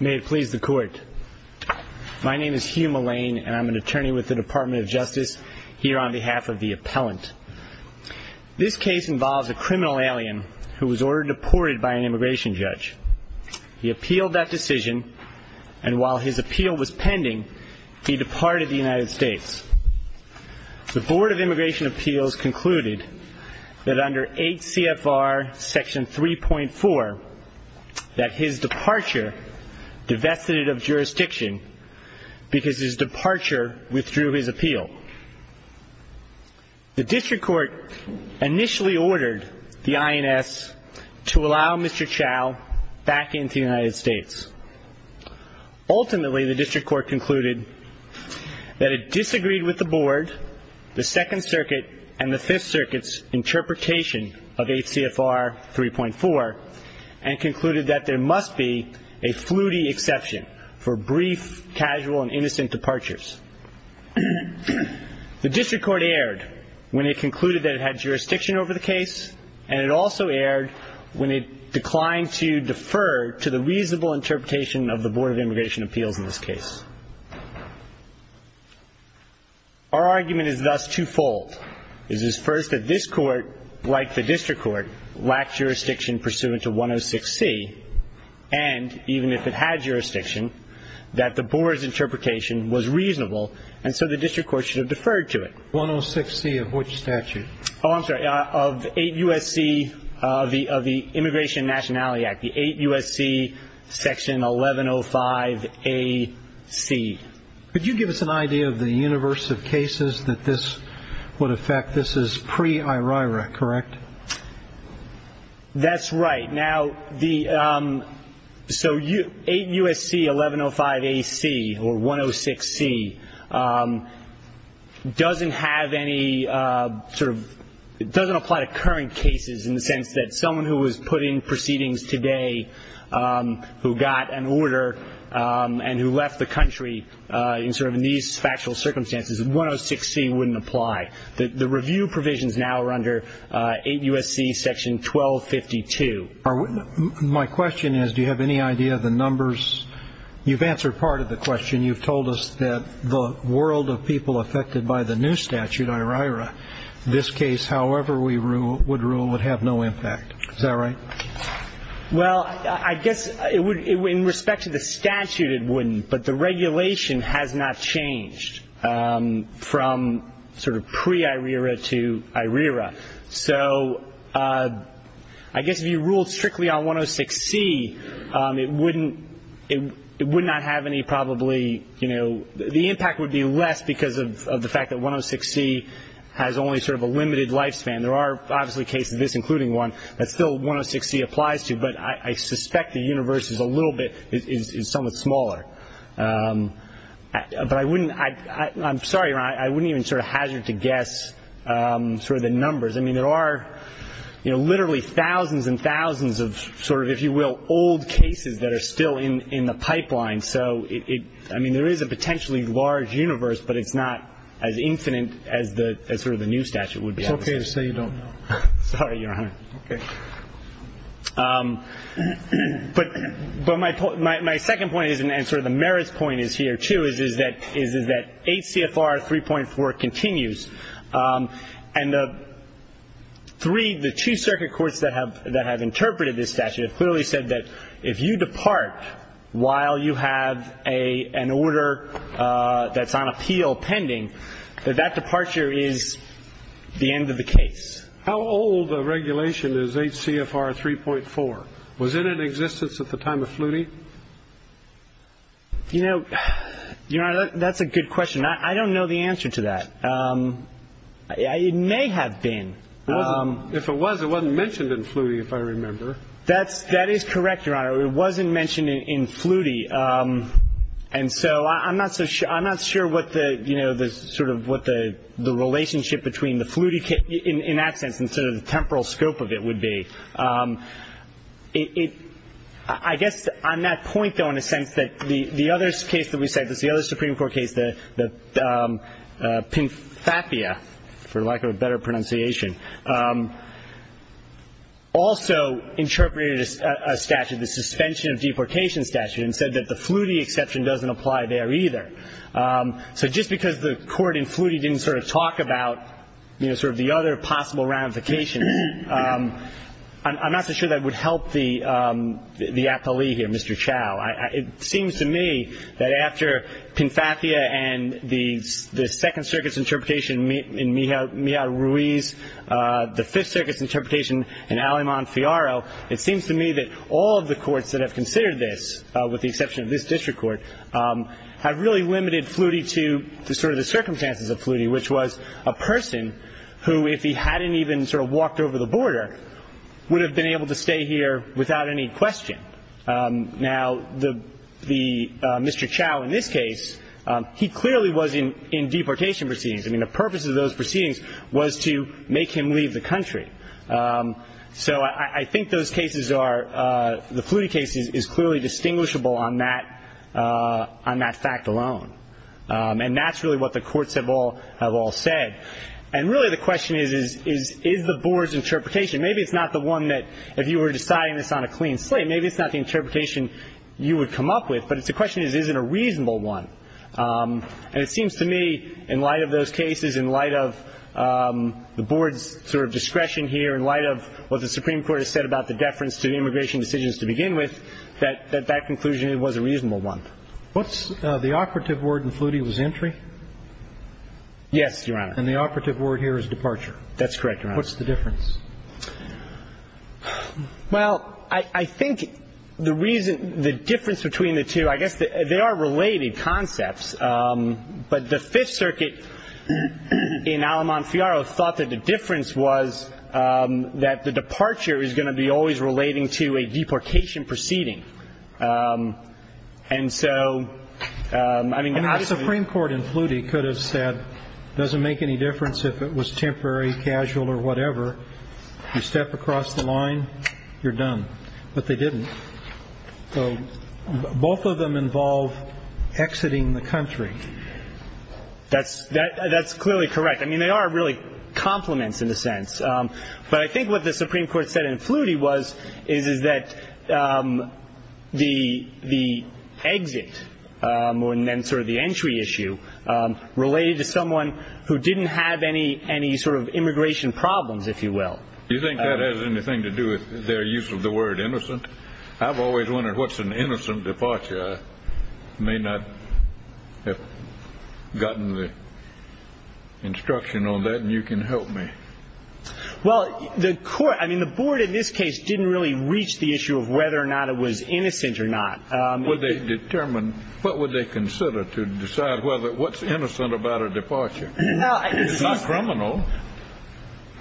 May it please the court. My name is Hugh Mullane, and I'm an attorney with the Department of Justice here on behalf of the appellant. This case involves a criminal alien who was ordered deported by an immigration judge. He appealed that decision, and while his appeal was pending, he departed the United States. The Board of Immigration Appeals concluded that under 8 CFR section 3.4, that his departure divested it of jurisdiction because his departure withdrew his appeal. The district court initially ordered the INS to allow Mr. Chow back into the United States. Ultimately, the district court concluded that it disagreed with the board, the Second Circuit, and the Fifth Circuit's interpretation of 8 CFR 3.4, and concluded that there must be a fluity exception for brief, casual, and innocent departures. The district court erred when it concluded that it had jurisdiction over the case, and it also erred when it declined to defer to the reasonable interpretation of the Board of Immigration Appeals in this case. Our argument is thus twofold. It is first that this court, like the district court, lacked jurisdiction pursuant to 106C, and even if it had jurisdiction, that the board's interpretation was reasonable, and so the district court should have deferred to it. 106C of which statute? Oh, I'm sorry, of 8 U.S.C. of the Immigration and Nationality Act, the 8 U.S.C. section 1105A.C. Could you give us an idea of the universe of cases that this would affect? This is pre-IRIRA, correct? That's right. Now, the so 8 U.S.C. 1105A.C. or 106C doesn't have any sort of, it doesn't apply to current cases in the sense that someone who was put in proceedings today, who got an order and who left the country in sort of these factual circumstances, 106C wouldn't apply. The review provisions now are under 8 U.S.C. section 1252. My question is, do you have any idea of the numbers? You've answered part of the question. You've told us that the world of people affected by the new statute, IRIRA, this case, however we would rule, would have no impact. Is that right? Well, I guess in respect to the statute it wouldn't, but the regulation has not changed from sort of pre-IRIRA to IRIRA. So I guess if you ruled strictly on 106C, it would not have any probably, you know, the impact would be less because of the fact that 106C has only sort of a limited lifespan. There are obviously cases, this including one, that still 106C applies to, but I suspect the universe is a little bit, is somewhat smaller. But I wouldn't, I'm sorry, I wouldn't even sort of hazard to guess sort of the numbers. I mean, there are, you know, literally thousands and thousands of sort of, if you will, old cases that are still in the pipeline. So, I mean, there is a potentially large universe, but it's not as infinite as sort of the new statute would be. It's okay to say you don't know. Sorry, Your Honor. Okay. But my second point is, and sort of the merits point is here, too, is that 8 CFR 3.4 continues. And the three, the two circuit courts that have interpreted this statute have clearly said that if you depart while you have an order that's on appeal pending, that that departure is the end of the case. How old a regulation is 8 CFR 3.4? Was it in existence at the time of Flutie? You know, Your Honor, that's a good question. I don't know the answer to that. It may have been. If it was, it wasn't mentioned in Flutie, if I remember. That is correct, Your Honor. It wasn't mentioned in Flutie. And so I'm not sure what the sort of what the relationship between the Flutie, in that sense, and sort of the temporal scope of it would be. I guess on that point, though, in a sense that the other case that we cited, the other Supreme Court case, the Pinfapia, for lack of a better pronunciation, also interpreted a statute, the suspension of deportation statute, and said that the Flutie exception doesn't apply there either. So just because the court in Flutie didn't sort of talk about, you know, sort of the other possible ramifications, I'm not so sure that would help the atollee here, Mr. Chau. It seems to me that after Pinfapia and the Second Circuit's interpretation in Mija Ruiz, the Fifth Circuit's interpretation in Aleman-Fiaro, it seems to me that all of the courts that have considered this, with the exception of this district court, have really limited Flutie to sort of the circumstances of Flutie, which was a person who, if he hadn't even sort of walked over the border, would have been able to stay here without any question. Now, the Mr. Chau in this case, he clearly was in deportation proceedings. I mean, the purpose of those proceedings was to make him leave the country. So I think those cases are, the Flutie case is clearly distinguishable on that fact alone. And that's really what the courts have all said. And really the question is, is the board's interpretation, maybe it's not the one that if you were deciding this on a clean slate, maybe it's not the interpretation you would come up with, but the question is, is it a reasonable one? And it seems to me, in light of those cases, in light of the board's sort of discretion here, in light of what the Supreme Court has said about the deference to the immigration decisions to begin with, that that conclusion was a reasonable one. What's the operative word in Flutie was entry? Yes, Your Honor. And the operative word here is departure. That's correct, Your Honor. What's the difference? Well, I think the reason, the difference between the two, I guess they are related concepts. But the Fifth Circuit in Alamont-Fiaro thought that the difference was that the departure is going to be always relating to a deportation proceeding. And so, I mean the Supreme Court in Flutie could have said it doesn't make any difference if it was temporary, casual, or whatever. You step across the line, you're done. But they didn't. So, both of them involve exiting the country. That's clearly correct. I mean, they are really complements in a sense. But I think what the Supreme Court said in Flutie was, is that the exit, and then sort of the entry issue, related to someone who didn't have any sort of immigration problems, if you will. Do you think that has anything to do with their use of the word innocent? I've always wondered what's an innocent departure. I may not have gotten the instruction on that, and you can help me. Well, the court, I mean the board in this case didn't really reach the issue of whether or not it was innocent or not. Would they determine, what would they consider to decide whether, what's innocent about a departure? It's not criminal.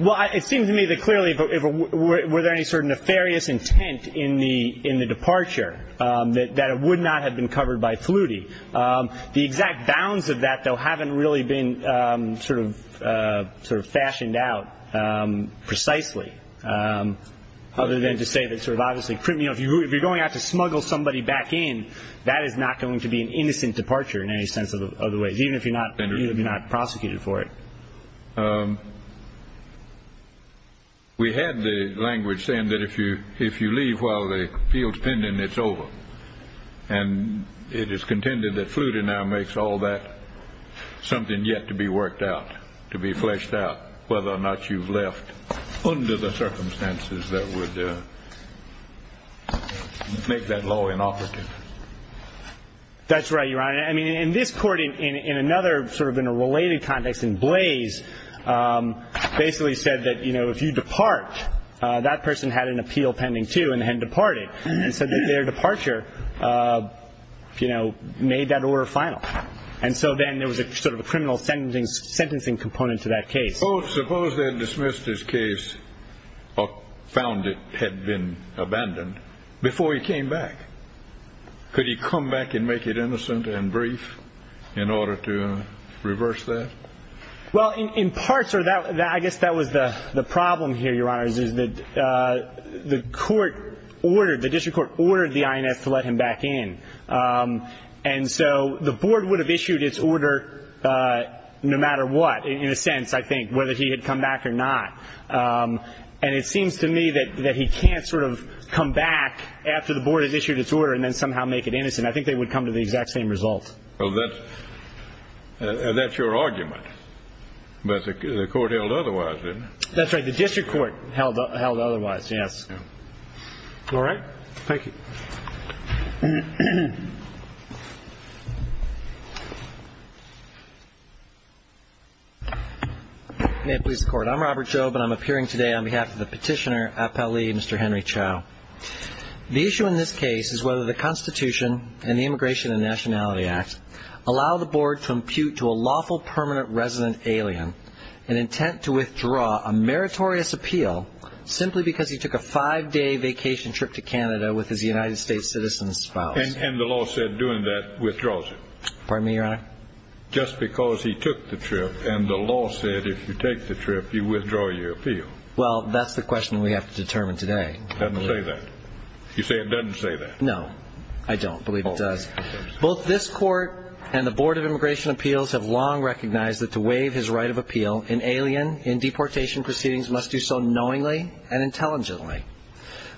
Well, it seems to me that clearly, were there any sort of nefarious intent in the departure, that it would not have been covered by Flutie. The exact bounds of that, though, haven't really been sort of fashioned out precisely, other than to say that sort of obviously, if you're going out to smuggle somebody back in, that is not going to be an innocent departure in any sense of the way, even if you're not prosecuted for it. We had the language saying that if you leave while the appeal's pending, it's over. And it is contended that Flutie now makes all that something yet to be worked out, to be fleshed out, whether or not you've left under the circumstances that would make that law inoperative. That's right, Your Honor. I mean, in this court, in another sort of in a related context, in Blaze, basically said that, you know, if you depart, that person had an appeal pending, too, and had departed, and said that their departure, you know, made that order final. And so then there was sort of a criminal sentencing component to that case. Suppose they had dismissed his case or found it had been abandoned before he came back. Could he come back and make it innocent and brief in order to reverse that? Well, in part, sir, I guess that was the problem here, Your Honor, is that the court ordered, the district court ordered the INS to let him back in. And so the board would have issued its order no matter what, in a sense, I think, whether he had come back or not. And it seems to me that he can't sort of come back after the board has issued its order and then somehow make it innocent. I think they would come to the exact same result. Well, that's your argument. But the court held otherwise, didn't it? That's right. The district court held otherwise, yes. All right. Thank you. May it please the Court. I'm Robert Job, and I'm appearing today on behalf of the petitioner, Appellee Mr. Henry Chow. The issue in this case is whether the Constitution and the Immigration and Nationality Act allow the board to impute to a lawful permanent resident alien an intent to withdraw a meritorious appeal simply because he took a five-day vacation trip to Canada with his United States citizen spouse. And the law said doing that withdraws it. Pardon me, Your Honor? Just because he took the trip, and the law said if you take the trip, you withdraw your appeal. Well, that's the question we have to determine today. It doesn't say that. You say it doesn't say that. No, I don't believe it does. Both this court and the Board of Immigration Appeals have long recognized that to waive his right of appeal, an alien in deportation proceedings must do so knowingly and intelligently.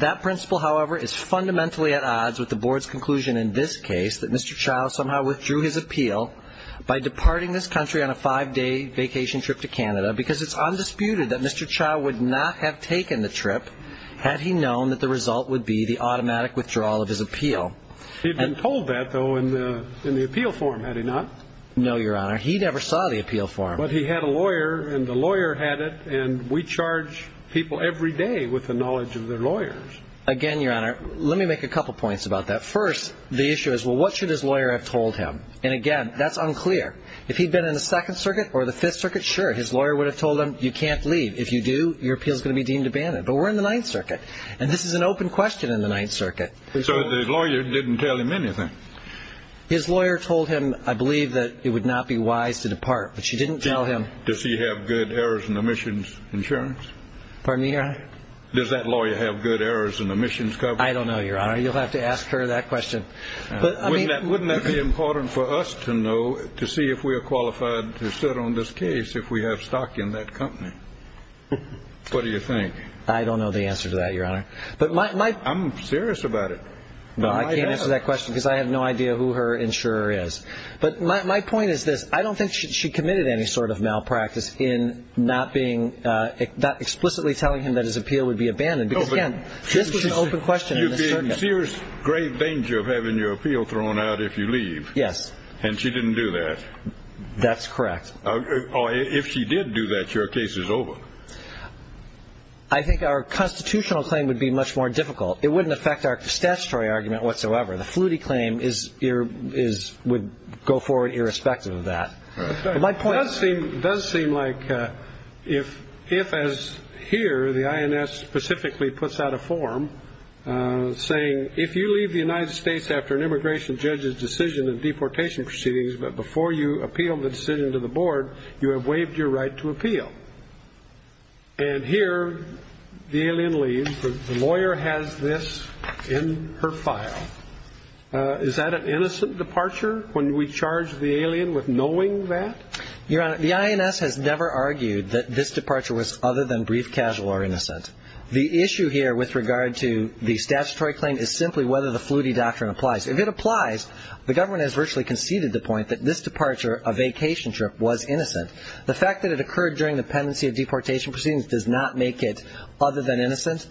That principle, however, is fundamentally at odds with the Board's conclusion in this case that Mr. Chow somehow withdrew his appeal by departing this country on a five-day vacation trip to Canada because it's undisputed that Mr. Chow would not have taken the trip had he known that the result would be the automatic withdrawal of his appeal. He had been told that, though, in the appeal form, had he not? No, Your Honor. He never saw the appeal form. But he had a lawyer, and the lawyer had it, and we charge people every day with the knowledge of their lawyers. Again, Your Honor, let me make a couple points about that. First, the issue is, well, what should his lawyer have told him? And, again, that's unclear. If he'd been in the Second Circuit or the Fifth Circuit, sure, his lawyer would have told him, you can't leave. If you do, your appeal is going to be deemed abandoned. But we're in the Ninth Circuit, and this is an open question in the Ninth Circuit. So the lawyer didn't tell him anything. His lawyer told him, I believe, that it would not be wise to depart. But she didn't tell him. Does he have good errors and omissions insurance? Pardon me, Your Honor? Does that lawyer have good errors and omissions coverage? I don't know, Your Honor. You'll have to ask her that question. Wouldn't that be important for us to know, to see if we are qualified to sit on this case, if we have stock in that company? What do you think? I don't know the answer to that, Your Honor. I'm serious about it. No, I can't answer that question because I have no idea who her insurer is. But my point is this. I don't think she committed any sort of malpractice in not explicitly telling him that his appeal would be abandoned. Because, again, this was an open question in the circuit. You're in serious grave danger of having your appeal thrown out if you leave. Yes. And she didn't do that. That's correct. If she did do that, your case is over. I think our constitutional claim would be much more difficult. It wouldn't affect our statutory argument whatsoever. The Flutie claim would go forward irrespective of that. It does seem like if, as here, the INS specifically puts out a form saying, if you leave the United States after an immigration judge's decision in deportation proceedings, but before you appeal the decision to the board, you have waived your right to appeal. And here the alien leaves. The lawyer has this in her file. Is that an innocent departure when we charge the alien with knowing that? Your Honor, the INS has never argued that this departure was other than brief, casual, or innocent. The issue here with regard to the statutory claim is simply whether the Flutie doctrine applies. If it applies, the government has virtually conceded the point that this departure, a vacation trip, was innocent. The fact that it occurred during the pendency of deportation proceedings does not make it other than innocent.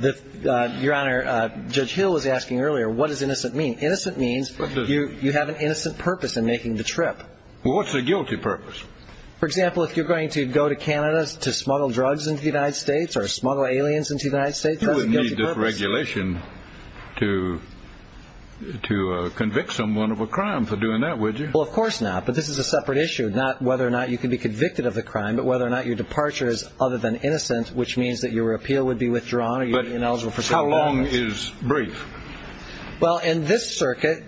Your Honor, Judge Hill was asking earlier, what does innocent mean? Innocent means you have an innocent purpose in making the trip. Well, what's the guilty purpose? For example, if you're going to go to Canada to smuggle drugs into the United States or smuggle aliens into the United States, that's a guilty purpose. You wouldn't need this regulation to convict someone of a crime for doing that, would you? Well, of course not. But this is a separate issue, not whether or not you can be convicted of a crime, but whether or not your departure is other than innocent, which means that your appeal would be withdrawn. How long is brief? Well, in this circuit,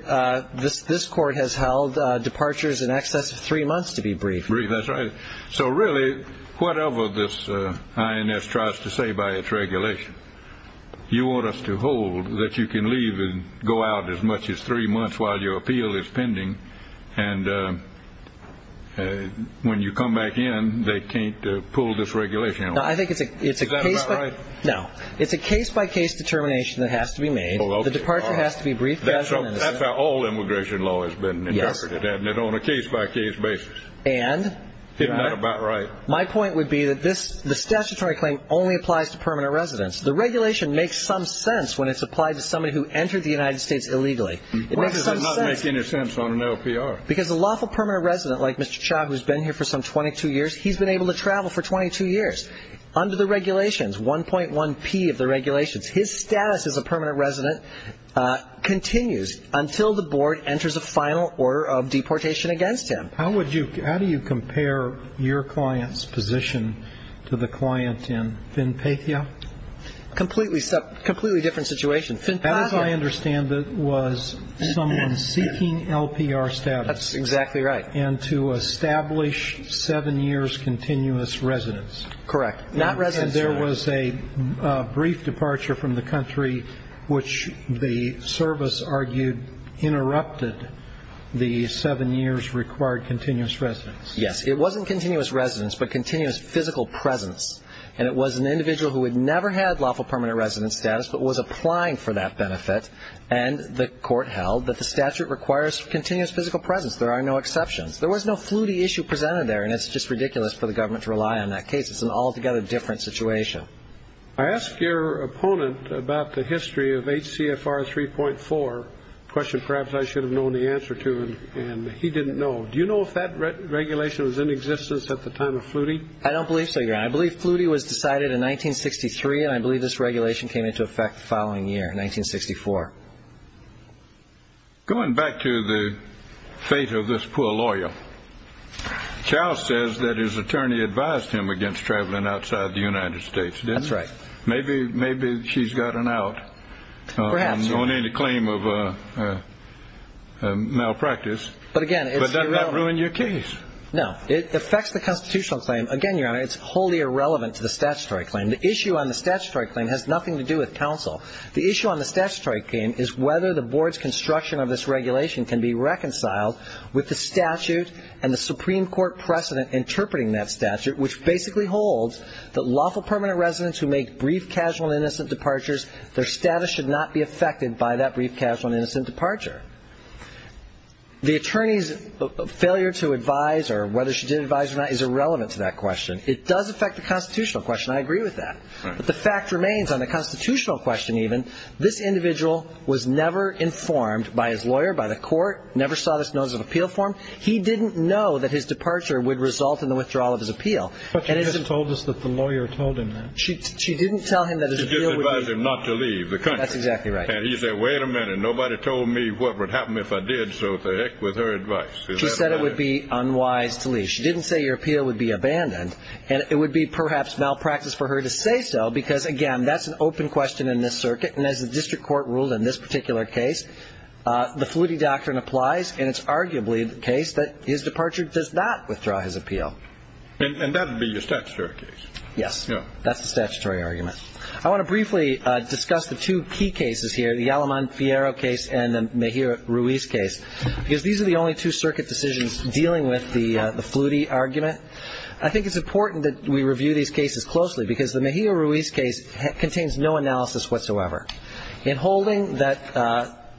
this court has held departures in excess of three months to be brief. Brief, that's right. So really, whatever this INS tries to say by its regulation, you want us to hold that you can leave and go out as much as three months while your appeal is pending, and when you come back in, they can't pull this regulation away. Is that about right? No. It's a case-by-case determination that has to be made. The departure has to be brief, gradual, and innocent. That's how all immigration law has been interpreted, isn't it, on a case-by-case basis. And? Isn't that about right? My point would be that the statutory claim only applies to permanent residents. The regulation makes some sense when it's applied to somebody who entered the United States illegally. Why does that not make any sense on an LPR? Because a lawful permanent resident like Mr. Cha who has been here for some 22 years, he's been able to travel for 22 years under the regulations, 1.1P of the regulations. His status as a permanent resident continues until the board enters a final order of deportation against him. How do you compare your client's position to the client in Phinpathia? Completely different situation. Phinpathia. As I understand it was someone seeking LPR status. That's exactly right. And to establish seven years continuous residence. Correct. Not residence terms. And there was a brief departure from the country which the service argued interrupted the seven years required continuous residence. Yes. It wasn't continuous residence but continuous physical presence. And it was an individual who had never had lawful permanent resident status but was applying for that benefit. And the court held that the statute requires continuous physical presence. There are no exceptions. There was no fluity issue presented there, and it's just ridiculous for the government to rely on that case. It's an altogether different situation. I asked your opponent about the history of HCFR 3.4, a question perhaps I should have known the answer to, and he didn't know. Do you know if that regulation was in existence at the time of fluity? I don't believe so, Your Honor. I believe fluity was decided in 1963, and I believe this regulation came into effect the following year, 1964. Going back to the fate of this poor lawyer, Charles says that his attorney advised him against traveling outside the United States, didn't he? That's right. Maybe she's gotten out on any claim of malpractice. But again, it's irrelevant. But doesn't that ruin your case? No. It affects the constitutional claim. Again, Your Honor, it's wholly irrelevant to the statutory claim. The issue on the statutory claim has nothing to do with counsel. The issue on the statutory claim is whether the board's construction of this regulation can be reconciled with the statute and the Supreme Court precedent interpreting that statute, which basically holds that lawful permanent residents who make brief, casual, and innocent departures, their status should not be affected by that brief, casual, and innocent departure. The attorney's failure to advise or whether she did advise or not is irrelevant to that question. It does affect the constitutional question. I agree with that. But the fact remains on the constitutional question even, this individual was never informed by his lawyer, by the court, never saw this notice of appeal form. He didn't know that his departure would result in the withdrawal of his appeal. But she just told us that the lawyer told him that. She didn't tell him that his appeal would be ---- She just advised him not to leave the country. That's exactly right. And he said, wait a minute, nobody told me what would happen if I did so with her advice. She said it would be unwise to leave. She didn't say your appeal would be abandoned. And it would be perhaps malpractice for her to say so because, again, that's an open question in this circuit. And as the district court ruled in this particular case, the Flutie doctrine applies, and it's arguably the case that his departure does not withdraw his appeal. And that would be your statutory case? Yes. That's the statutory argument. I want to briefly discuss the two key cases here, the Aleman-Fiero case and the Mejia-Ruiz case, because these are the only two circuit decisions dealing with the Flutie argument. I think it's important that we review these cases closely because the Mejia-Ruiz case contains no analysis whatsoever. In holding that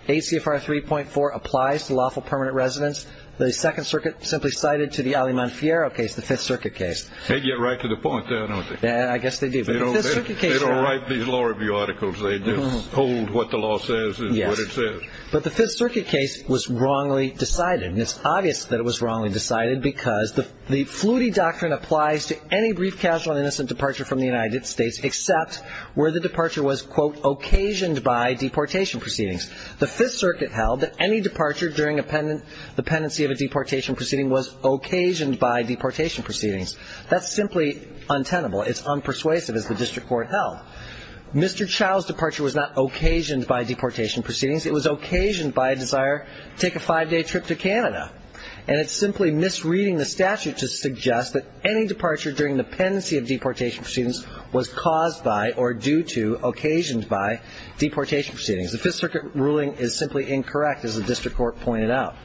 ACFR 3.4 applies to lawful permanent residents, the Second Circuit simply cited to the Aleman-Fiero case, the Fifth Circuit case. They get right to the point there, don't they? I guess they do. They don't write these law review articles. They just hold what the law says is what it says. But the Fifth Circuit case was wrongly decided. And it's obvious that it was wrongly decided because the Flutie doctrine applies to any brief casual and innocent departure from the United States except where the departure was, quote, occasioned by deportation proceedings. The Fifth Circuit held that any departure during the pendency of a deportation proceeding was occasioned by deportation proceedings. That's simply untenable. It's unpersuasive, as the district court held. Mr. Chao's departure was not occasioned by deportation proceedings. It was occasioned by a desire to take a five-day trip to Canada. And it's simply misreading the statute to suggest that any departure during the pendency of deportation proceedings was caused by or due to, occasioned by, deportation proceedings. The Fifth Circuit ruling is simply incorrect, as the district court pointed out.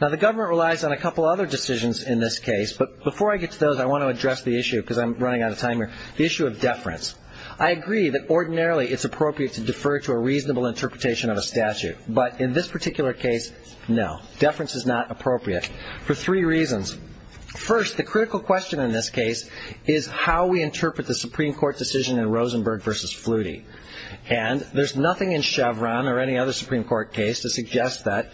Now, the government relies on a couple other decisions in this case. But before I get to those, I want to address the issue because I'm running out of time here, the issue of deference. I agree that ordinarily it's appropriate to defer to a reasonable interpretation of a statute. But in this particular case, no. Deference is not appropriate for three reasons. First, the critical question in this case is how we interpret the Supreme Court decision in Rosenberg v. Flutie. And there's nothing in Chevron or any other Supreme Court case to suggest that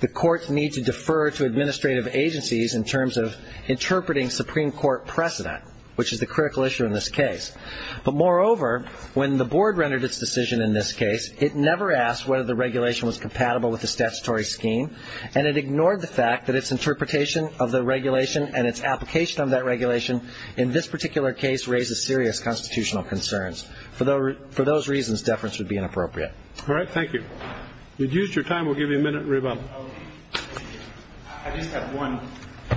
the courts need to defer to administrative agencies in terms of interpreting Supreme Court precedent, which is the critical issue in this case. But moreover, when the board rendered its decision in this case, it never asked whether the regulation was compatible with the statutory scheme, and it ignored the fact that its interpretation of the regulation and its application of that regulation in this particular case raises serious constitutional concerns. For those reasons, deference would be inappropriate. All right. Thank you. You've used your time. We'll give you a minute, Riva. I just have one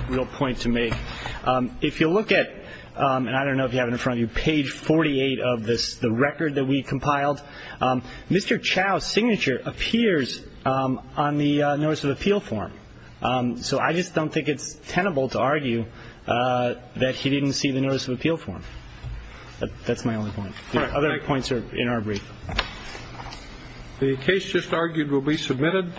real point to make. If you look at, and I don't know if you have it in front of you, page 48 of this, the record that we compiled, Mr. Chau's signature appears on the notice of appeal form. So I just don't think it's tenable to argue that he didn't see the notice of appeal form. That's my only point. The other points are in our brief. The case just argued will be submitted.